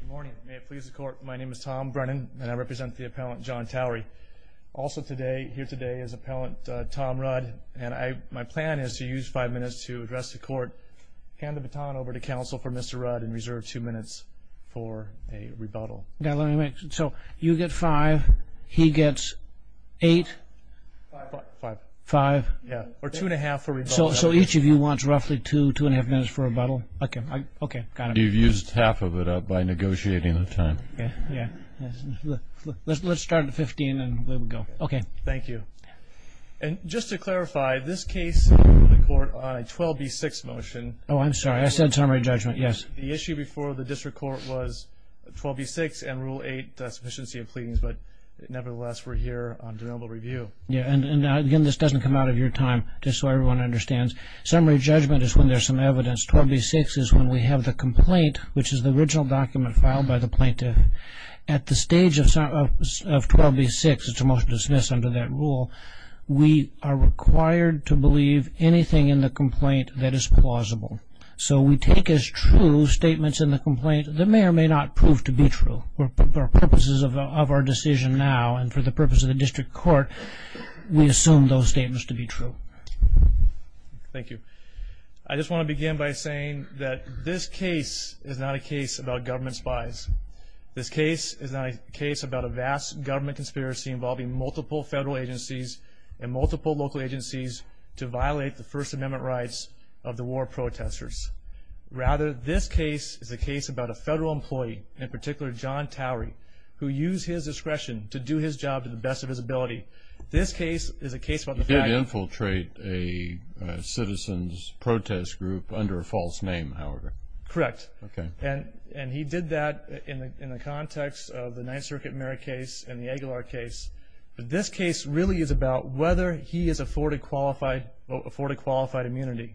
Good morning. May it please the court, my name is Tom Brennan and I represent the appellant John Towery. Also here today is appellant Tom Rudd and my plan is to use five minutes to address the court, hand the baton over to counsel for Mr. Rudd and reserve two minutes for a rebuttal. Now let me make, so you get five, he gets eight? Five. Yeah, or two and a half for rebuttal. So each of you wants roughly two, two and a half minutes for rebuttal? Okay. Okay, got it. And you've used half of it up by negotiating the time. Yeah. Let's start at 15 and then we'll go. Okay. Thank you. And just to clarify, this case, the court on a 12B6 motion. Oh, I'm sorry, I said summary judgment, yes. The issue before the district court was 12B6 and Rule 8, the sufficiency of pleadings, but nevertheless we're here on denial of review. Yeah, and again, this doesn't come out of your time, just so everyone understands. Summary judgment is when there's some evidence. 12B6 is when we have the complaint, which is the original document filed by the plaintiff. At the stage of 12B6, it's a motion to dismiss under that rule, we are required to believe anything in the complaint that is plausible. So we take as true statements in the complaint that may or may not prove to be true. For purposes of our decision now and for the purpose of the district court, we assume those statements to be true. Thank you. I just want to begin by saying that this case is not a case about government spies. This case is not a case about a vast government conspiracy involving multiple federal agencies and multiple local agencies to violate the First Amendment rights of the war protesters. Rather, this case is a case about a federal employee, in particular John Towery, who used his discretion to do his job to the best of his ability. He did infiltrate a citizen's protest group under a false name, however. Correct. Okay. And he did that in the context of the Ninth Circuit merit case and the Aguilar case. But this case really is about whether he is afforded qualified immunity,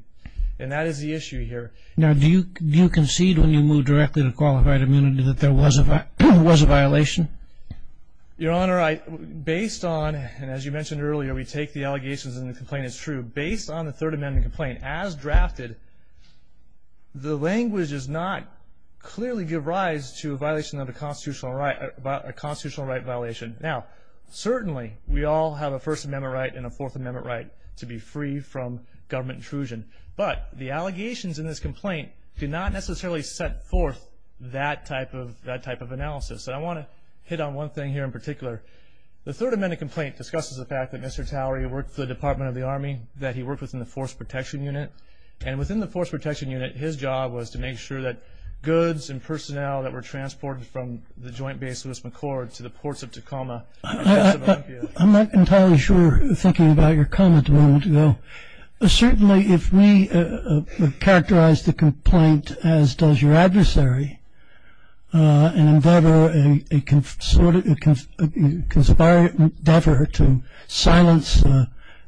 and that is the issue here. Now, do you concede when you move directly to qualified immunity that there was a violation? Your Honor, based on, and as you mentioned earlier, we take the allegations in the complaint as true. Based on the Third Amendment complaint as drafted, the language does not clearly give rise to a violation of a constitutional right violation. Now, certainly we all have a First Amendment right and a Fourth Amendment right to be free from government intrusion, but the allegations in this complaint do not necessarily set forth that type of analysis. And I want to hit on one thing here in particular. The Third Amendment complaint discusses the fact that Mr. Towery worked for the Department of the Army, that he worked within the Force Protection Unit, and within the Force Protection Unit his job was to make sure that goods and personnel that were transported from the Joint Base Lewis-McChord to the ports of Tacoma. I'm not entirely sure thinking about your comment a moment ago. Certainly if we characterize the complaint as does your adversary, and in fact are a conspiring endeavor to silence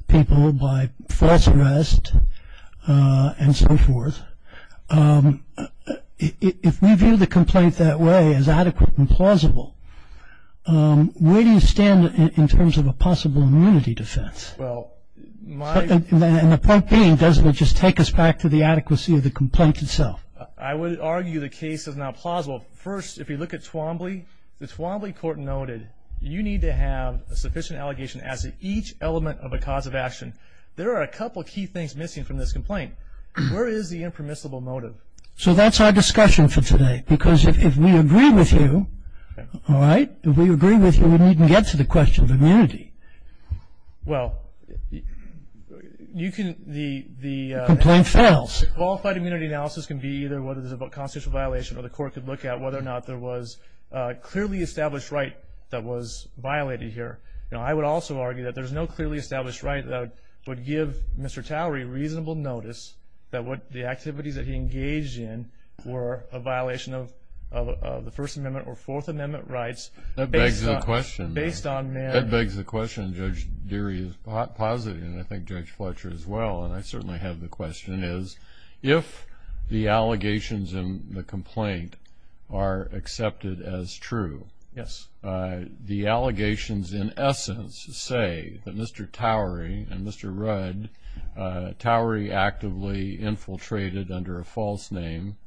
people by false arrest and so forth, if we view the complaint that way as adequate and plausible, where do you stand in terms of a possible immunity defense? Well, my And the point being, doesn't it just take us back to the adequacy of the complaint itself? I would argue the case is not plausible. First, if you look at Twombly, the Twombly court noted, you need to have a sufficient allegation as to each element of a cause of action. There are a couple of key things missing from this complaint. Where is the impermissible motive? So that's our discussion for today, because if we agree with you, all right, if we agree with you, we needn't get to the question of immunity. Well, you can The complaint fails. Qualified immunity analysis can be either whether there's a constitutional violation or the court could look at whether or not there was a clearly established right that was violated here. I would also argue that there's no clearly established right that would give Mr. Towery reasonable notice that the activities that he engaged in were a violation of the First Amendment or Fourth Amendment rights. That begs the question. Based on That begs the question. Judge Deary is positive, and I think Judge Fletcher as well, and I certainly have the question, is if the allegations in the complaint are accepted as true, the allegations in essence say that Mr. Towery and Mr. Rudd, Towery actively infiltrated under a false name.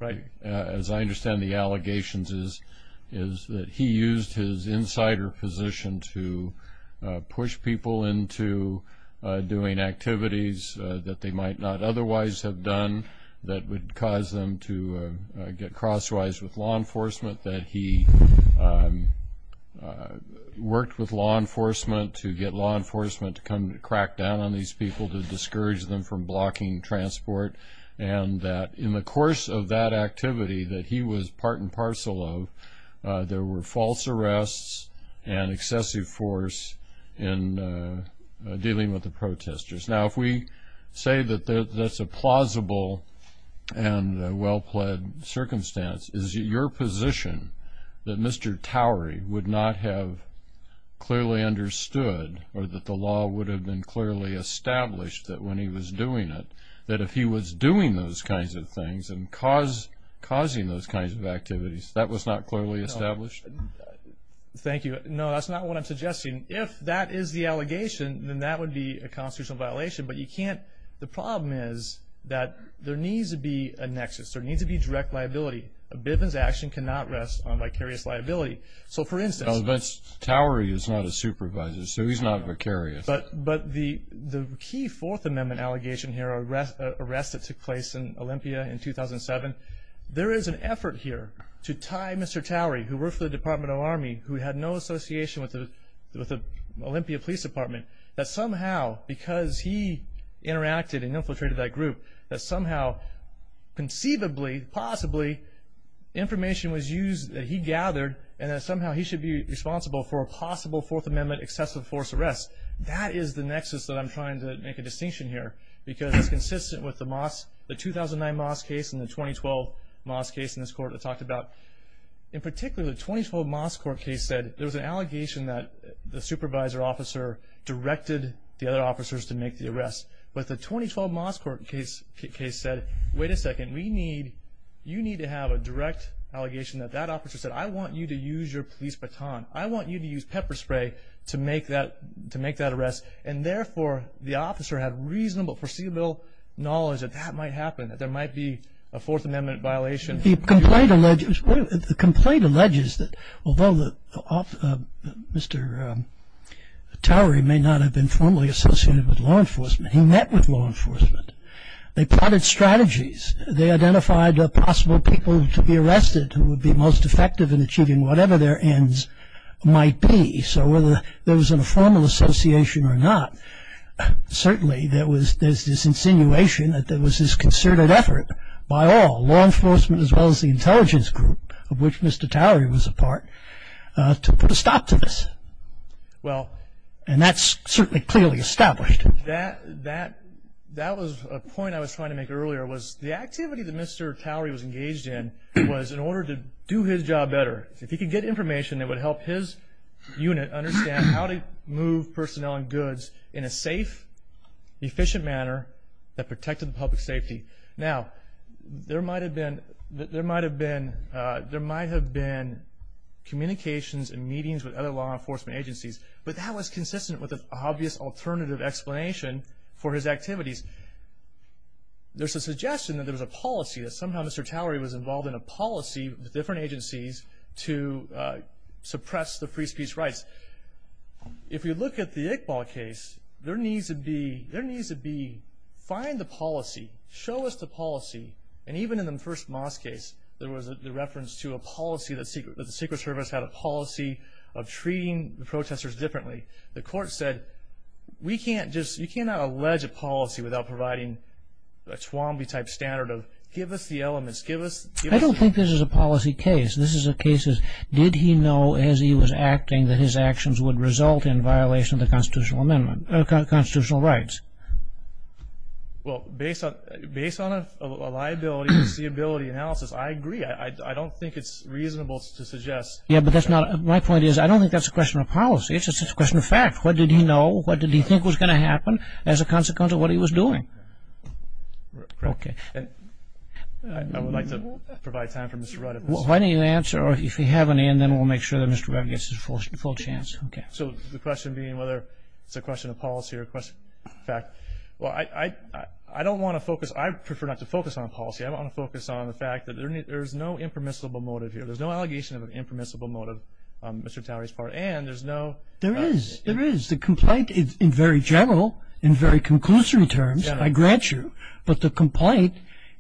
As I understand the allegations is that he used his insider position to push people into doing activities that they might not otherwise have done that would cause them to get crosswise with law enforcement, that he worked with law enforcement to get law enforcement to come crack down on these people, to discourage them from blocking transport, and that in the course of that activity that he was part and parcel of, there were false arrests and excessive force in dealing with the protesters. Now, if we say that that's a plausible and well-plaid circumstance, is it your position that Mr. Towery would not have clearly understood or that the law would have been clearly established that when he was doing it, that if he was doing those kinds of things and causing those kinds of activities, that was not clearly established? Thank you. No, that's not what I'm suggesting. If that is the allegation, then that would be a constitutional violation, but you can't – the problem is that there needs to be a nexus. There needs to be direct liability. A bit of his action cannot rest on vicarious liability. So, for instance – But Towery is not a supervisor, so he's not vicarious. But the key Fourth Amendment allegation here, an arrest that took place in Olympia in 2007, there is an effort here to tie Mr. Towery, who worked for the Department of Army, who had no association with the Olympia Police Department, that somehow because he interacted and infiltrated that group, that somehow conceivably, possibly, information was used that he gathered and that somehow he should be responsible for a possible Fourth Amendment excessive force arrest. That is the nexus that I'm trying to make a distinction here because it's consistent with the 2009 Moss case and the 2012 Moss case in this court I talked about. In particular, the 2012 Moss court case said there was an allegation that the supervisor officer directed the other officers to make the arrest. But the 2012 Moss court case said, wait a second, we need – you need to have a direct allegation that that officer said, I want you to use your police baton. I want you to use pepper spray to make that arrest. And therefore, the officer had reasonable, foreseeable knowledge that that might happen, that there might be a Fourth Amendment violation. The complaint alleges that although Mr. Towery may not have been formally associated with law enforcement, he met with law enforcement. They identified possible people to be arrested who would be most effective in achieving whatever their ends might be. So whether there was a formal association or not, certainly there was this insinuation that there was this concerted effort by all, law enforcement as well as the intelligence group of which Mr. Towery was a part, to put a stop to this. And that's certainly clearly established. That was a point I was trying to make earlier, was the activity that Mr. Towery was engaged in was in order to do his job better. If he could get information that would help his unit understand how to move personnel and goods in a safe, efficient manner that protected public safety. Now, there might have been communications and meetings with other law enforcement agencies, but that was consistent with an obvious alternative explanation for his activities. There's a suggestion that there was a policy, that somehow Mr. Towery was involved in a policy with different agencies to suppress the free speech rights. If you look at the Iqbal case, there needs to be, there needs to be, find the policy. Show us the policy. And even in the first Moss case, there was the reference to a policy, that the Secret Service had a policy of treating the protesters differently. The court said, we can't just, you cannot allege a policy without providing a Twombly type standard of, give us the elements, give us, give us. I don't think this is a policy case. This is a case of, did he know as he was acting that his actions would result in violation of the constitutional amendment, constitutional rights? Well, based on a liability foreseeability analysis, I agree. I don't think it's reasonable to suggest. Yeah, but that's not, my point is, I don't think that's a question of policy. It's a question of fact. What did he know? What did he think was going to happen as a consequence of what he was doing? Okay. I would like to provide time for Mr. Rudd. Why don't you answer, or if you have any, and then we'll make sure that Mr. Rudd gets his full chance. So the question being whether it's a question of policy or a question of fact. Well, I don't want to focus, I prefer not to focus on policy. I want to focus on the fact that there's no impermissible motive here. There's no allegation of an impermissible motive on Mr. Towery's part. And there's no. There is. There is. The complaint in very general, in very conclusory terms, I grant you. But the complaint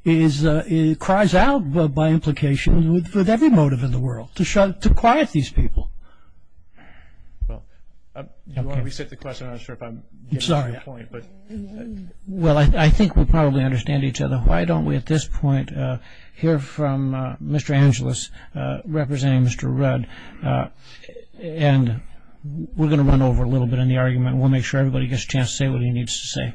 cries out by implication with every motive in the world to quiet these people. Well, while we sit the question, I'm not sure if I'm getting to that point. I'm sorry. Well, I think we probably understand each other. Why don't we at this point hear from Mr. Angelus representing Mr. Rudd. And we're going to run over a little bit in the argument. We'll make sure everybody gets a chance to say what he needs to say.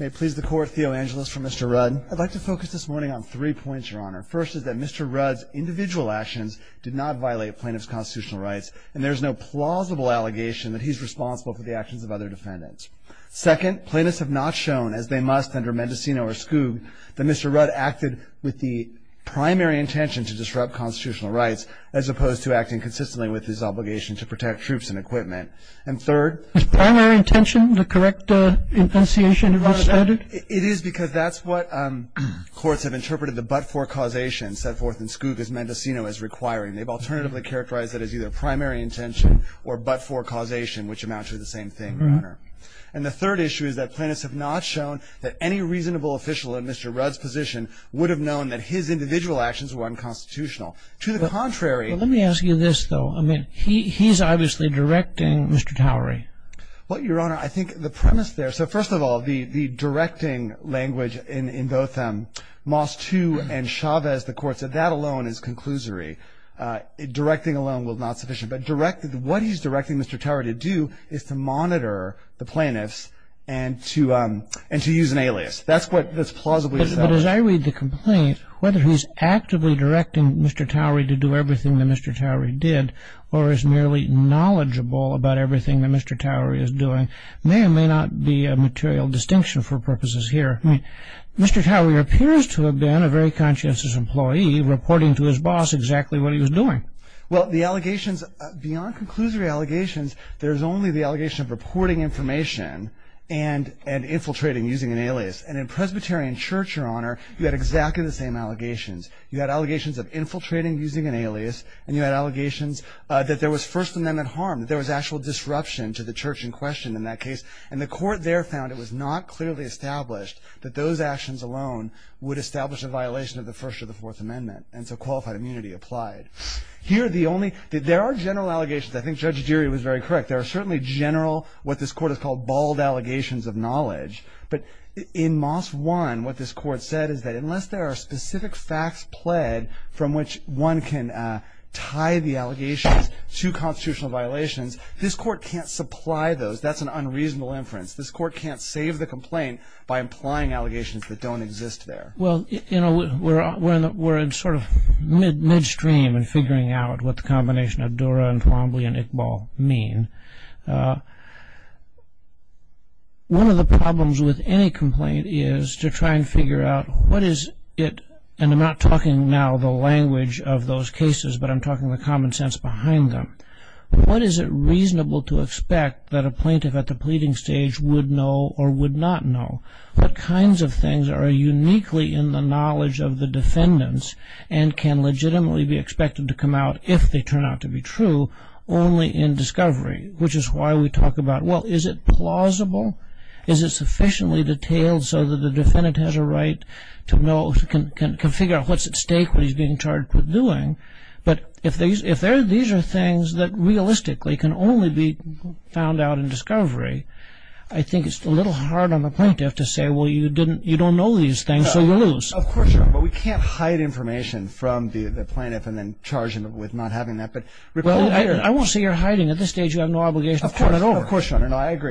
May it please the Court, Theo Angelus for Mr. Rudd. I'd like to focus this morning on three points, Your Honor. First is that Mr. Rudd's individual actions did not violate plaintiff's constitutional rights, and there's no plausible allegation that he's responsible for the actions of other defendants. Second, plaintiffs have not shown, as they must under Mendocino or Skoog, that Mr. Rudd acted with the primary intention to disrupt constitutional rights, as opposed to acting consistently with his obligation to protect troops and equipment. And third — His primary intention, the correct intonation of which — It is because that's what courts have interpreted the but-for causation set forth in Skoog, as Mendocino is requiring. They've alternatively characterized it as either primary intention or but-for causation, which amounts to the same thing, Your Honor. And the third issue is that plaintiffs have not shown that any reasonable official in Mr. Rudd's position would have known that his individual actions were unconstitutional. To the contrary — Well, let me ask you this, though. I mean, he's obviously directing Mr. Towery. Well, Your Honor, I think the premise there — So first of all, the directing language in both Moss II and Chavez, the Court said, that alone is conclusory. Directing alone was not sufficient. But what he's directing Mr. Towery to do is to monitor the plaintiffs and to use an alias. That's what's plausibly — But as I read the complaint, whether he's actively directing Mr. Towery to do everything that Mr. Towery did or is merely knowledgeable about everything that Mr. Towery is doing may or may not be a material distinction for purposes here. I mean, Mr. Towery appears to have been a very conscientious employee, reporting to his boss exactly what he was doing. Well, the allegations — beyond conclusory allegations, there's only the allegation of reporting information and infiltrating using an alias. And in Presbyterian Church, Your Honor, you had exactly the same allegations. You had allegations of infiltrating using an alias, and you had allegations that there was First Amendment harm, that there was actual disruption to the church in question in that case. And the Court there found it was not clearly established that those actions alone would establish a violation of the First or the Fourth Amendment. And so qualified immunity applied. Here, the only — there are general allegations. I think Judge Geary was very correct. There are certainly general what this Court has called bald allegations of knowledge. But in Moss 1, what this Court said is that unless there are specific facts pled from which one can tie the allegations to constitutional violations, this Court can't supply those. That's an unreasonable inference. This Court can't save the complaint by implying allegations that don't exist there. Well, you know, we're in sort of midstream in figuring out what the combination of Dura and Twombly and Iqbal mean. One of the problems with any complaint is to try and figure out what is it — and I'm not talking now the language of those cases, but I'm talking the common sense behind them. What is it reasonable to expect that a plaintiff at the pleading stage would know or would not know? What kinds of things are uniquely in the knowledge of the defendants and can legitimately be expected to come out if they turn out to be true only in discovery? Which is why we talk about, well, is it plausible? Is it sufficiently detailed so that the defendant has a right to know — can figure out what's at stake, what he's being charged with doing? But if these are things that realistically can only be found out in discovery, I think it's a little hard on the plaintiff to say, well, you don't know these things, so we'll lose. Of course, Your Honor. But we can't hide information from the plaintiff and then charge him with not having that. But recall — Well, I won't say you're hiding. At this stage, you have no obligation to point it over. Of course, Your Honor. No, I agree.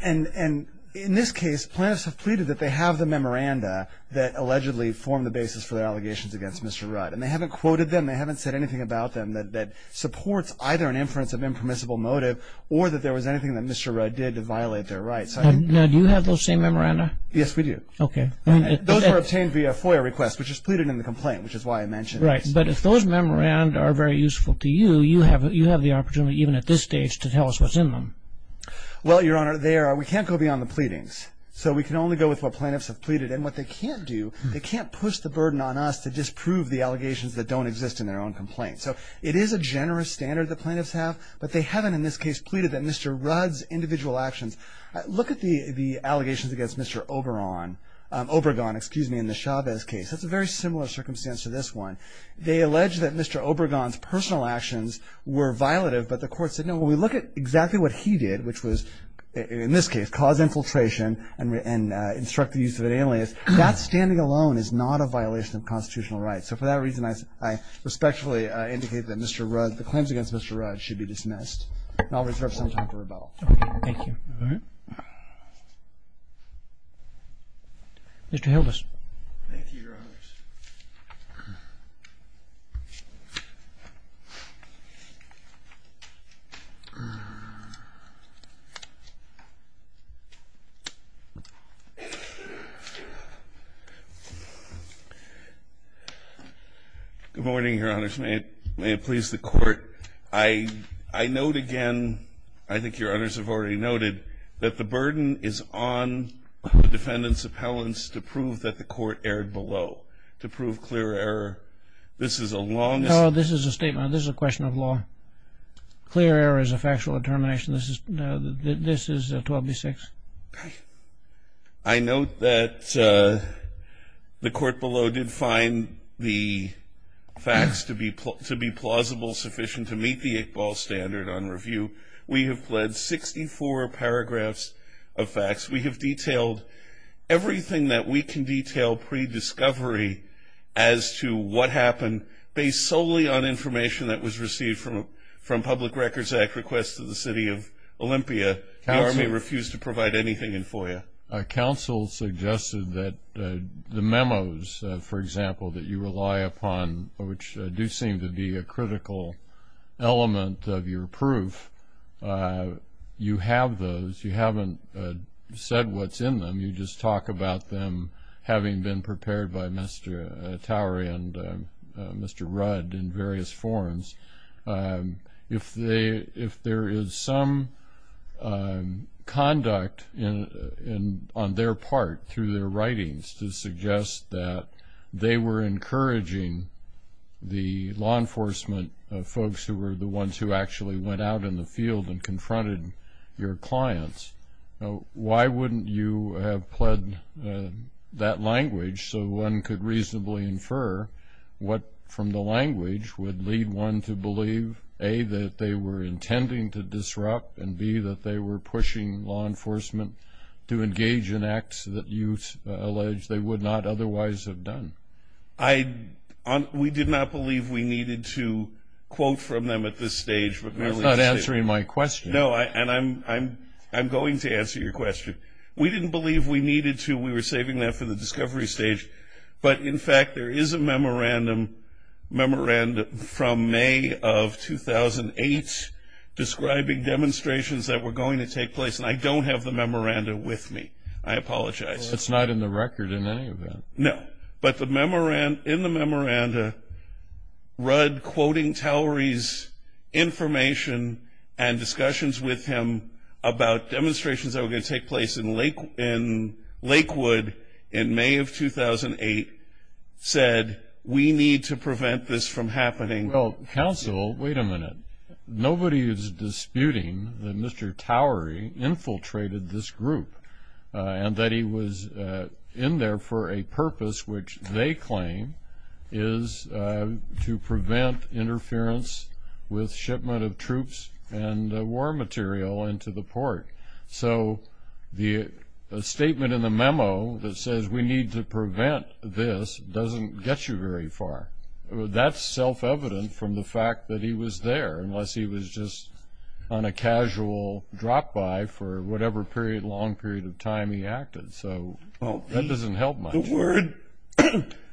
And in this case, plaintiffs have pleaded that they have the memoranda that allegedly formed the basis for their allegations against Mr. Rudd. And they haven't quoted them. They haven't said anything about them that supports either an inference of impermissible motive or that there was anything that Mr. Rudd did to violate their rights. Now, do you have those same memoranda? Yes, we do. Okay. Those were obtained via FOIA request, which is pleaded in the complaint, which is why I mentioned it. Right. But if those memoranda are very useful to you, you have the opportunity, even at this stage, to tell us what's in them. Well, Your Honor, we can't go beyond the pleadings. So we can only go with what plaintiffs have pleaded. And what they can't do, they can't push the burden on us to disprove the allegations that don't exist in their own complaint. So it is a generous standard that plaintiffs have, but they haven't, in this case, pleaded that Mr. Rudd's individual actions. Look at the allegations against Mr. Obregon in the Chavez case. That's a very similar circumstance to this one. They allege that Mr. Obregon's personal actions were violative, but the court said, no, when we look at exactly what he did, which was, in this case, cause infiltration and instruct the use of an alias, that standing alone is not a violation of constitutional rights. So for that reason, I respectfully indicate that Mr. Rudd, the claims against Mr. Rudd should be dismissed. And I'll reserve some time for rebuttal. Thank you. All right. Mr. Hildes. Thank you, Your Honors. Good morning, Your Honors. May it please the Court. I note again, I think Your Honors have already noted, that the burden is on the defendant's appellants to prove that the court erred below. This is a long statement. No, this is a statement. This is a question of law. Clear error is a factual determination. This is 12B6. I note that the court below did find the facts to be plausible, sufficient to meet the Iqbal standard on review. We have pledged 64 paragraphs of facts. We have detailed everything that we can detail pre-discovery as to what happened, based solely on information that was received from Public Records Act requests to the city of Olympia. The Army refused to provide anything in FOIA. Counsel suggested that the memos, for example, that you rely upon, which do seem to be a critical element of your proof, you have those. You haven't said what's in them. You just talk about them having been prepared by Mr. Towery and Mr. Rudd in various forms. If there is some conduct on their part, through their writings, to suggest that they were encouraging the law enforcement folks, who were the ones who actually went out in the field and confronted your clients, why wouldn't you have pledged that language so one could reasonably infer what, from the language, would lead one to believe, A, that they were intending to disrupt, and B, that they were pushing law enforcement to engage in acts that you allege they would not otherwise have done? We did not believe we needed to quote from them at this stage. I'm not answering my question. No, and I'm going to answer your question. We didn't believe we needed to. We were saving that for the discovery stage. But, in fact, there is a memorandum from May of 2008 describing demonstrations that were going to take place, and I don't have the memorandum with me. I apologize. It's not in the record in any event. No, but in the memorandum, Rudd, quoting Towery's information and discussions with him about demonstrations that were going to take place in Lakewood in May of 2008, said we need to prevent this from happening. Well, counsel, wait a minute. Nobody is disputing that Mr. Towery infiltrated this group and that he was in there for a purpose which they claim is to prevent interference with shipment of troops and war material into the port. So the statement in the memo that says we need to prevent this doesn't get you very far. That's self-evident from the fact that he was there, unless he was just on a casual drop-by for whatever period, long period of time he acted. So that doesn't help much.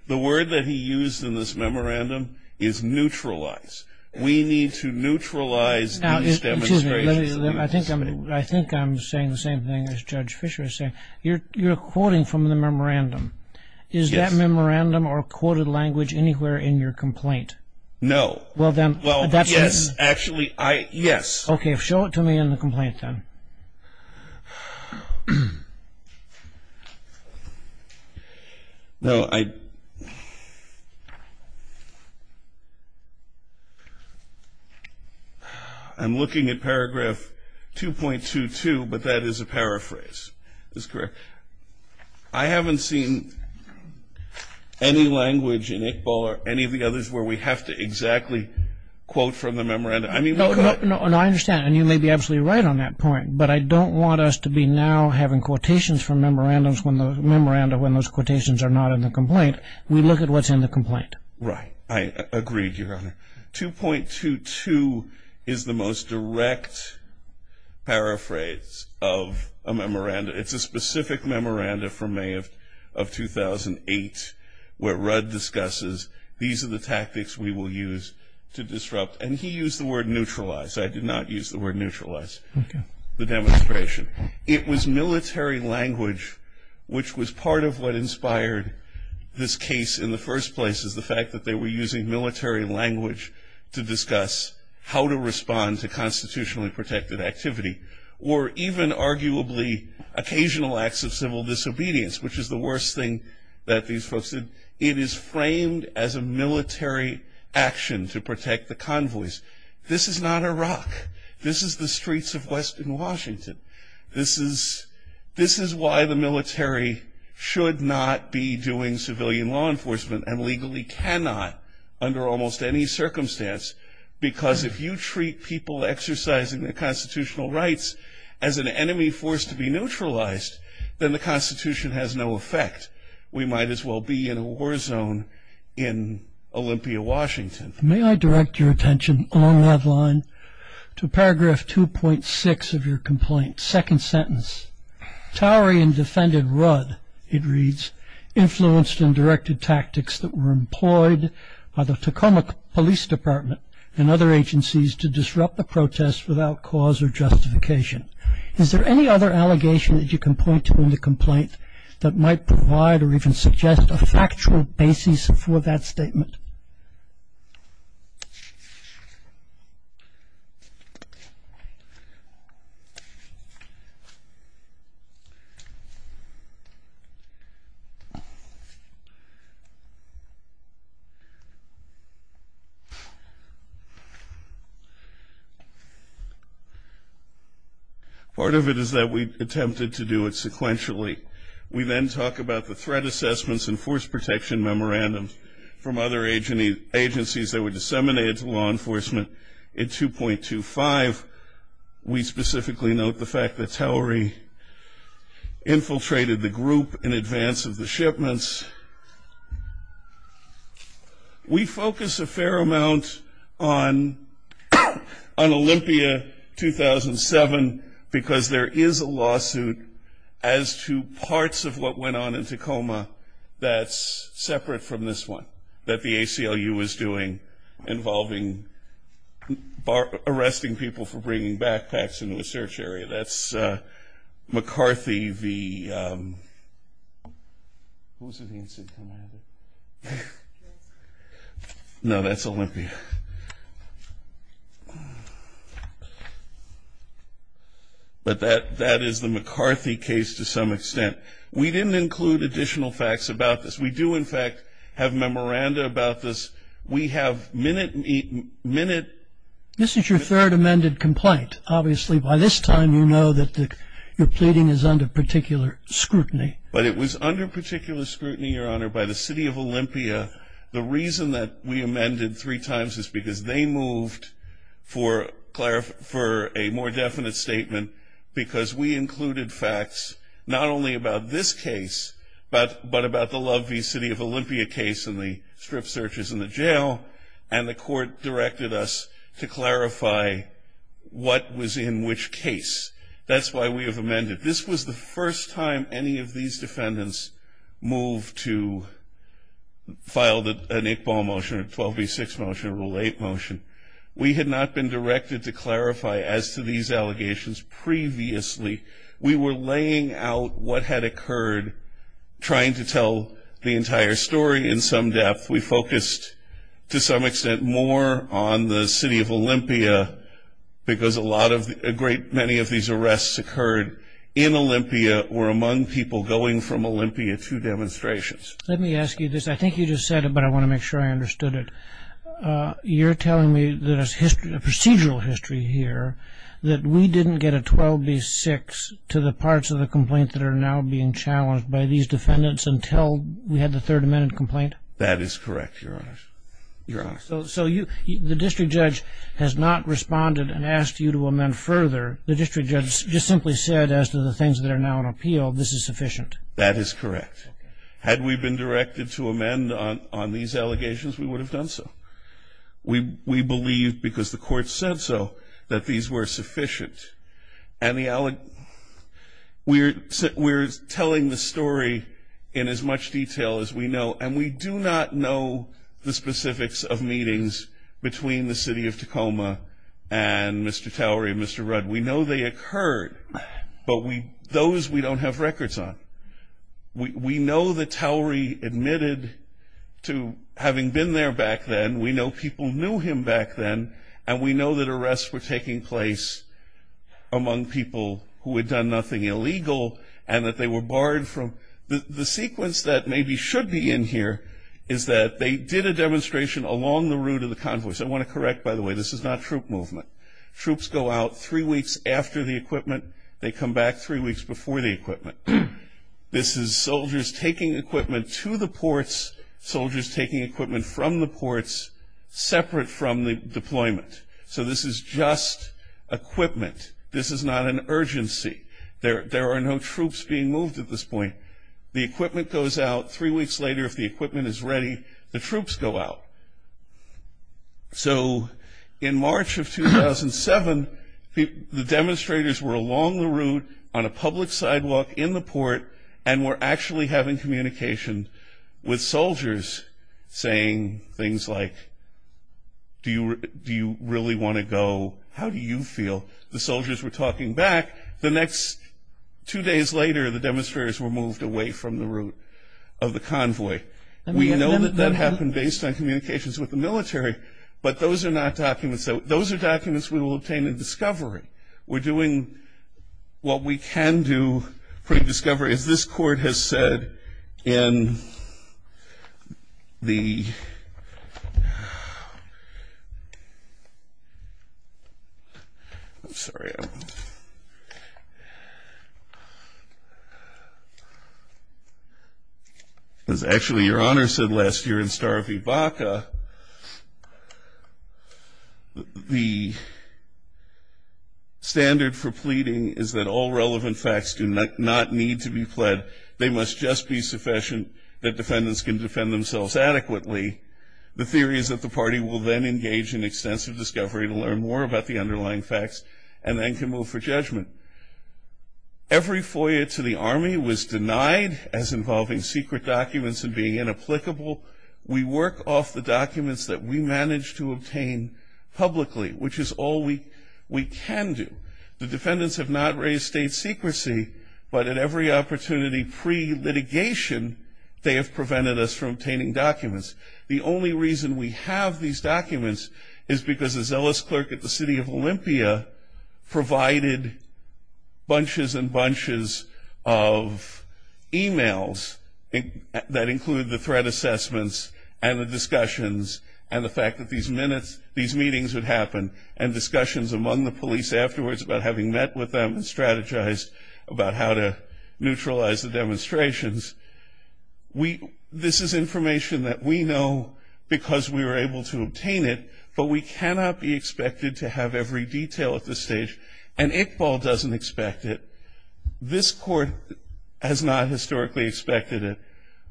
The word that he used in this memorandum is neutralize. We need to neutralize these demonstrations. I think I'm saying the same thing as Judge Fisher is saying. You're quoting from the memorandum. Is that memorandum or quoted language anywhere in your complaint? No. Well, yes, actually, yes. Okay. Show it to me in the complaint then. I'm looking at paragraph 2.22, but that is a paraphrase. Is this correct? I haven't seen any language in Iqbal or any of the others where we have to exactly quote from the memorandum. No, I understand, and you may be absolutely right on that point, but I don't want us to be now having quotations from memorandums when those quotations are not in the complaint. We look at what's in the complaint. Right. I agree, Your Honor. 2.22 is the most direct paraphrase of a memorandum. It's a specific memorandum from May of 2008 where Rudd discusses, these are the tactics we will use to disrupt, and he used the word neutralize. I did not use the word neutralize. Okay. The demonstration. It was military language, which was part of what inspired this case in the first place, is the fact that they were using military language to discuss how to respond to constitutionally protected activity, or even arguably occasional acts of civil disobedience, which is the worst thing that these folks did. It is framed as a military action to protect the convoys. This is not Iraq. This is the streets of western Washington. This is why the military should not be doing civilian law enforcement, and legally cannot under almost any circumstance, because if you treat people exercising their constitutional rights as an enemy forced to be neutralized, then the Constitution has no effect. We might as well be in a war zone in Olympia, Washington. May I direct your attention along that line to paragraph 2.6 of your complaint, second sentence. Towery and defended Rudd, it reads, influenced and directed tactics that were employed by the Tacoma Police Department and other agencies to disrupt the protests without cause or justification. Is there any other allegation that you can point to in the complaint that might provide or even suggest a factual basis for that statement? Part of it is that we attempted to do it sequentially. We then talk about the threat assessments and force protection memorandums from other agencies that were disseminated to law enforcement in 2.25. We specifically note the fact that Towery infiltrated the group in advance of the shipments. We focus a fair amount on Olympia 2007, because there is a lawsuit as to parts of what went on in Tacoma that's separate from this one, that the ACLU was doing involving arresting people for bringing backpacks into a search area. That's McCarthy v. No, that's Olympia. But that is the McCarthy case to some extent. We didn't include additional facts about this. We do, in fact, have memoranda about this. We have minute... This is your third amended complaint. Obviously, by this time, you know that your pleading is under particular scrutiny. But it was under particular scrutiny, Your Honor, by the city of Olympia. The reason that we amended three times is because they moved for a more definite statement, because we included facts not only about this case, but about the Love v. City of Olympia case and the strip searches in the jail. And the court directed us to clarify what was in which case. That's why we have amended. This was the first time any of these defendants moved to file an Iqbal motion, a 12 v. 6 motion, a Rule 8 motion. We had not been directed to clarify as to these allegations previously. We were laying out what had occurred, trying to tell the entire story in some depth. We focused, to some extent, more on the city of Olympia, because a great many of these arrests occurred in Olympia or among people going from Olympia to demonstrations. Let me ask you this. I think you just said it, but I want to make sure I understood it. You're telling me there's a procedural history here that we didn't get a 12 v. 6 to the parts of the complaint that are now being challenged by these defendants until we had the Third Amendment complaint? That is correct, Your Honor. Your Honor. So the district judge has not responded and asked you to amend further. The district judge just simply said, as to the things that are now in appeal, this is sufficient. That is correct. Had we been directed to amend on these allegations, we would have done so. We believe, because the court said so, that these were sufficient. We're telling the story in as much detail as we know, and we do not know the specifics of meetings between the city of Tacoma and Mr. Towery and Mr. Rudd. We know they occurred, but those we don't have records on. We know that Towery admitted to having been there back then. We know people knew him back then, and we know that arrests were taking place among people who had done nothing illegal and that they were barred from the sequence that maybe should be in here, is that they did a demonstration along the route of the convoys. I want to correct, by the way, this is not troop movement. Troops go out three weeks after the equipment. They come back three weeks before the equipment. This is soldiers taking equipment to the ports, soldiers taking equipment from the ports separate from the deployment. So this is just equipment. This is not an urgency. There are no troops being moved at this point. The equipment goes out. Three weeks later, if the equipment is ready, the troops go out. So in March of 2007, the demonstrators were along the route on a public sidewalk in the port and were actually having communication with soldiers saying things like, do you really want to go? How do you feel? The soldiers were talking back. The next two days later, the demonstrators were moved away from the route of the convoy. We know that that happened based on communications with the military, but those are not documents. Those are documents we will obtain in discovery. We're doing what we can do pre-discovery, as this court has said in the ‑‑ I'm sorry. Okay. As actually Your Honor said last year in Star of Ibaka, the standard for pleading is that all relevant facts do not need to be pled. They must just be sufficient that defendants can defend themselves adequately. The theory is that the party will then engage in extensive discovery to learn more about the underlying facts and then can move for judgment. Every FOIA to the Army was denied as involving secret documents and being inapplicable. We work off the documents that we manage to obtain publicly, which is all we can do. The defendants have not raised state secrecy, but at every opportunity pre-litigation, they have prevented us from obtaining documents. The only reason we have these documents is because a zealous clerk at the city of Olympia provided bunches and bunches of e‑mails that include the threat assessments and the discussions and the fact that these meetings would happen and discussions among the police afterwards about having met with them and strategized about how to neutralize the demonstrations. This is information that we know because we were able to obtain it, but we cannot be expected to have every detail at this stage, and Iqbal doesn't expect it. This court has not historically expected it.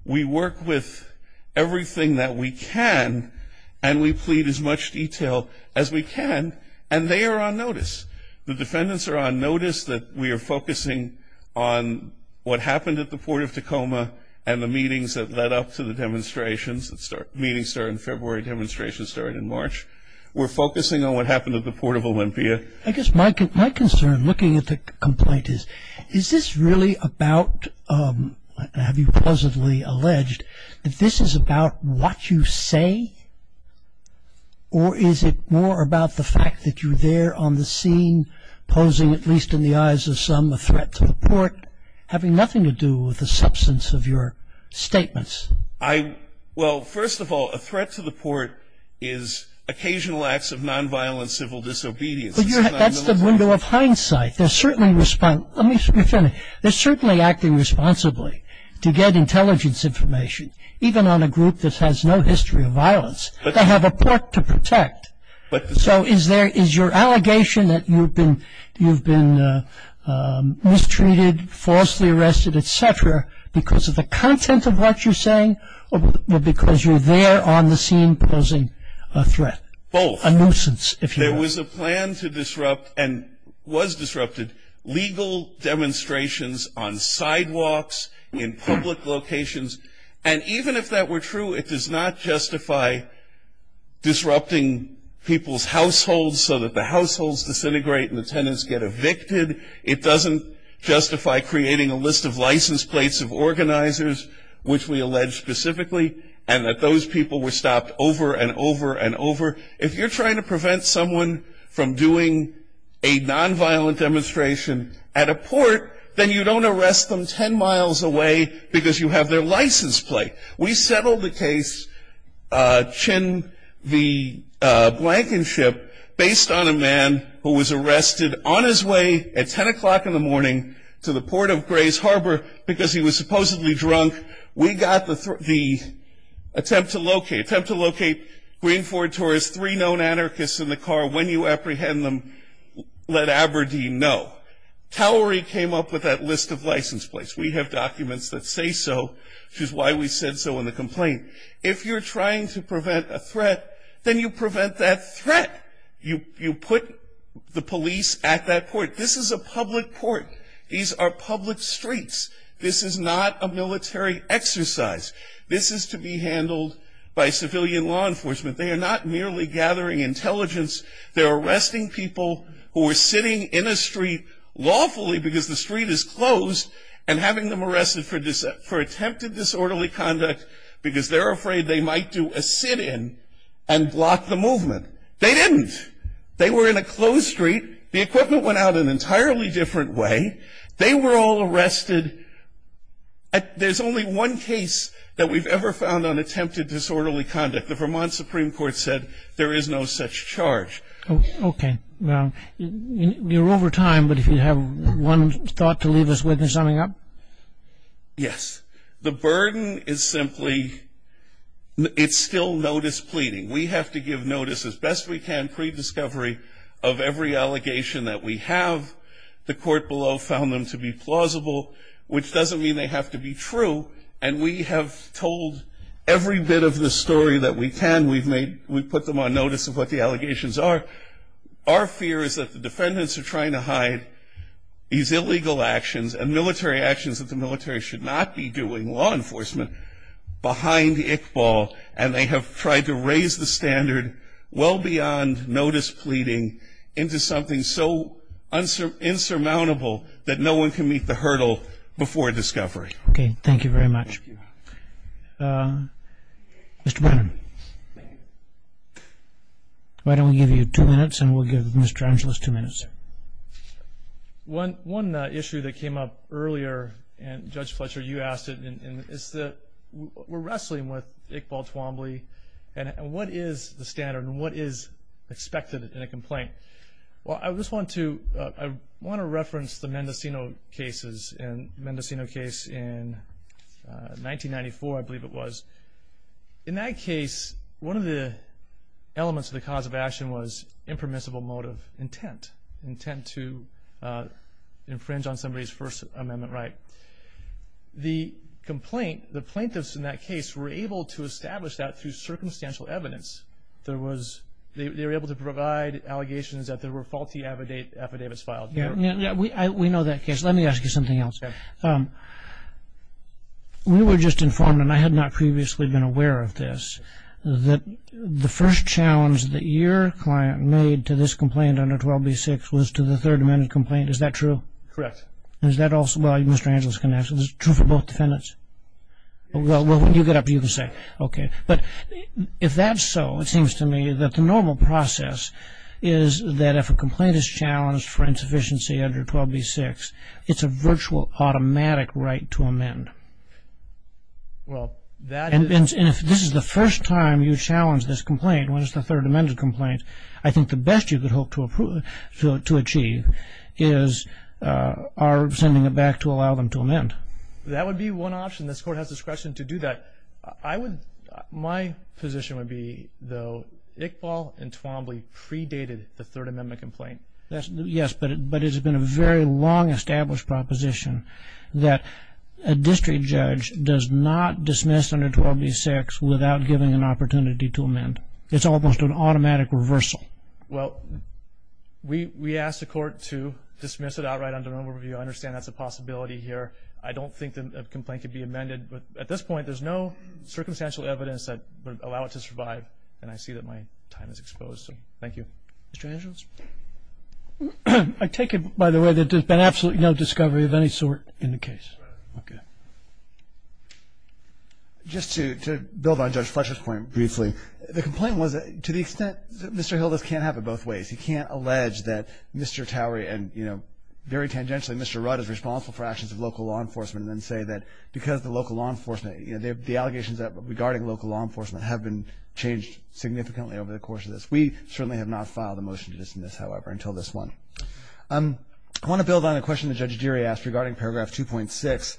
We work with everything that we can, and we plead as much detail as we can, and they are on notice. The defendants are on notice that we are focusing on what happened at the Port of Tacoma and the meetings that led up to the demonstrations, the meetings started in February, demonstrations started in March. We're focusing on what happened at the Port of Olympia. I guess my concern looking at the complaint is, is this really about, have you pleasantly alleged that this is about what you say, or is it more about the fact that you're there on the scene posing, at least in the eyes of some, a threat to the port, having nothing to do with the substance of your statements? Well, first of all, a threat to the port is occasional acts of non‑violent civil disobedience. That's the window of hindsight. They're certainly acting responsibly to get intelligence information, even on a group that has no history of violence. They have a port to protect. So is your allegation that you've been mistreated, falsely arrested, et cetera, because of the content of what you're saying, or because you're there on the scene posing a threat? Both. A nuisance, if you will. There was a plan to disrupt, and was disrupted, legal demonstrations on sidewalks, in public locations, and even if that were true, it does not justify disrupting people's households so that the households disintegrate and the tenants get evicted. It doesn't justify creating a list of license plates of organizers, which we allege specifically, and that those people were stopped over and over and over. If you're trying to prevent someone from doing a non‑violent demonstration at a port, then you don't arrest them ten miles away because you have their license plate. We settled the case, Chin v. Blankenship, based on a man who was arrested on his way at 10 o'clock in the morning to the port of Grays Harbor because he was supposedly drunk. We got the attempt to locate Green Ford Taurus, three known anarchists in the car. When you apprehend them, let Aberdeen know. Towery came up with that list of license plates. We have documents that say so, which is why we said so in the complaint. If you're trying to prevent a threat, then you prevent that threat. You put the police at that port. This is a public port. These are public streets. This is not a military exercise. This is to be handled by civilian law enforcement. They are not merely gathering intelligence. They're arresting people who are sitting in a street lawfully because the street is closed and having them arrested for attempted disorderly conduct because they're afraid they might do a sit‑in and block the movement. They didn't. They were in a closed street. The equipment went out an entirely different way. They were all arrested. There's only one case that we've ever found on attempted disorderly conduct. The Vermont Supreme Court said there is no such charge. Okay. Well, you're over time, but if you have one thought to leave us with in summing up. Yes. The burden is simply it's still notice pleading. We have to give notice as best we can pre‑discovery of every allegation that we have. The court below found them to be plausible, which doesn't mean they have to be true, and we have told every bit of the story that we can. We've put them on notice of what the allegations are. Our fear is that the defendants are trying to hide these illegal actions and military actions that the military should not be doing, law enforcement, behind Iqbal, and they have tried to raise the standard well beyond notice pleading into something so insurmountable that no one can meet the hurdle before discovery. Okay. Thank you very much. Mr. Brennan, why don't we give you two minutes and we'll give Mr. Angeles two minutes. One issue that came up earlier, and Judge Fletcher, you asked it, is that we're wrestling with Iqbal Twombly, and what is the standard and what is expected in a complaint? Okay. Well, I just want to reference the Mendocino case in 1994, I believe it was. In that case, one of the elements of the cause of action was impermissible motive intent, intent to infringe on somebody's First Amendment right. The complaint, the plaintiffs in that case, were able to establish that through circumstantial evidence. They were able to provide allegations that there were faulty affidavits filed. We know that case. Let me ask you something else. We were just informed, and I had not previously been aware of this, that the first challenge that your client made to this complaint under 12b-6 was to the Third Amendment complaint. Is that true? Correct. Is that also, well, Mr. Angeles can answer. Is it true for both defendants? Well, when you get up, you can say. Okay. But if that's so, it seems to me that the normal process is that if a complaint is challenged for insufficiency under 12b-6, it's a virtual automatic right to amend. Well, that is. And if this is the first time you challenge this complaint, when it's the Third Amendment complaint, I think the best you could hope to achieve is our sending it back to allow them to amend. That would be one option. This Court has discretion to do that. My position would be, though, Iqbal and Twombly predated the Third Amendment complaint. Yes, but it has been a very long established proposition that a district judge does not dismiss under 12b-6 without giving an opportunity to amend. It's almost an automatic reversal. Well, we ask the Court to dismiss it outright under an overview. I understand that's a possibility here. I don't think that a complaint could be amended. But at this point, there's no circumstantial evidence that would allow it to survive, and I see that my time is exposed. So thank you. Mr. Hanschels? I take it, by the way, that there's been absolutely no discovery of any sort in the case. Right. Okay. Just to build on Judge Fletcher's point briefly, the complaint was to the extent that Mr. Hilda's can't have it both ways. He can't allege that Mr. Towery and, you know, very tangentially, Mr. Rudd is responsible for actions of local law enforcement and then say that because the local law enforcement, you know, the allegations regarding local law enforcement have been changed significantly over the course of this. We certainly have not filed a motion to dismiss, however, until this one. I want to build on a question that Judge Deary asked regarding Paragraph 2.6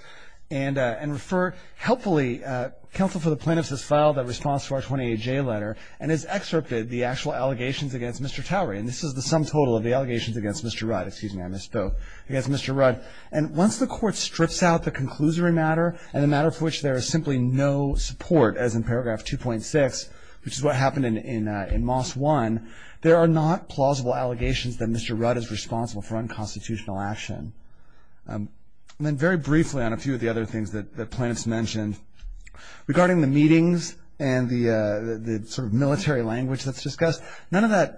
and refer helpfully, counsel for the plaintiffs has filed a response to our 28-J letter and has excerpted the actual allegations against Mr. Towery. And this is the sum total of the allegations against Mr. Rudd. Excuse me, I missed both. Against Mr. Rudd. And once the court strips out the conclusory matter and the matter for which there is simply no support, as in Paragraph 2.6, which is what happened in Moss 1, there are not plausible allegations that Mr. Rudd is responsible for unconstitutional action. And then very briefly on a few of the other things that the plaintiffs mentioned, regarding the meetings and the sort of military language that's discussed, none of that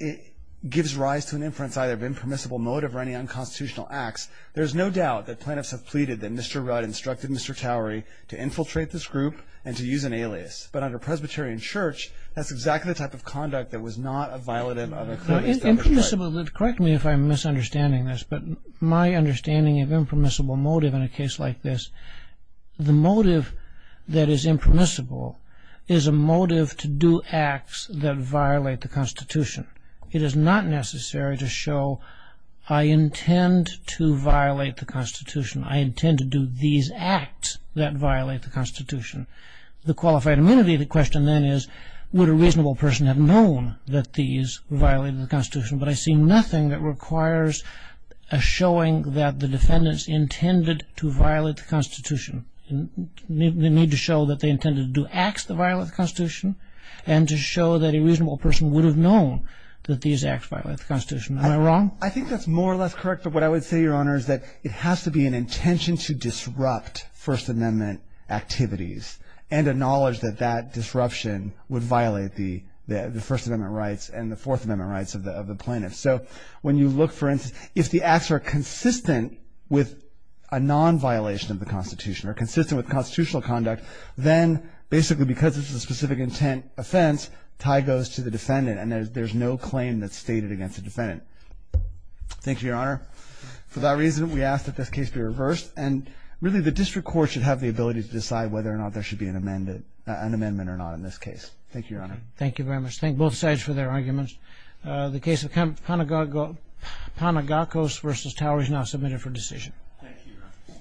gives rise to an inference either of impermissible motive or any unconstitutional acts. There's no doubt that plaintiffs have pleaded that Mr. Rudd instructed Mr. Towery to infiltrate this group and to use an alias. But under Presbyterian church, that's exactly the type of conduct that was not a violent act. Correct me if I'm misunderstanding this, but my understanding of impermissible motive in a case like this, the motive that is impermissible is a motive to do acts that violate the Constitution. It is not necessary to show, I intend to violate the Constitution. I intend to do these acts that violate the Constitution. The qualified immunity of the question then is, would a reasonable person have known that these violated the Constitution? But I see nothing that requires a showing that the defendants intended to violate the Constitution. They need to show that they intended to do acts that violate the Constitution and to show that a reasonable person would have known that these acts violate the Constitution. Am I wrong? I think that's more or less correct, but what I would say, Your Honor, is that it has to be an intention to disrupt First Amendment activities and a knowledge that that disruption would violate the First Amendment rights and the Fourth Amendment rights of the plaintiff. So when you look, for instance, if the acts are consistent with a non-violation of the Constitution or consistent with constitutional conduct, then basically because it's a specific intent offense, tie goes to the defendant and there's no claim that's stated against the defendant. Thank you, Your Honor. For that reason, we ask that this case be reversed and really the district court should have the ability to decide whether or not there should be an amendment or not in this case. Thank you, Your Honor. Thank you very much. Thank both sides for their arguments. The case of Panagakos v. Towers is now submitted for decision. Thank you, Your Honor.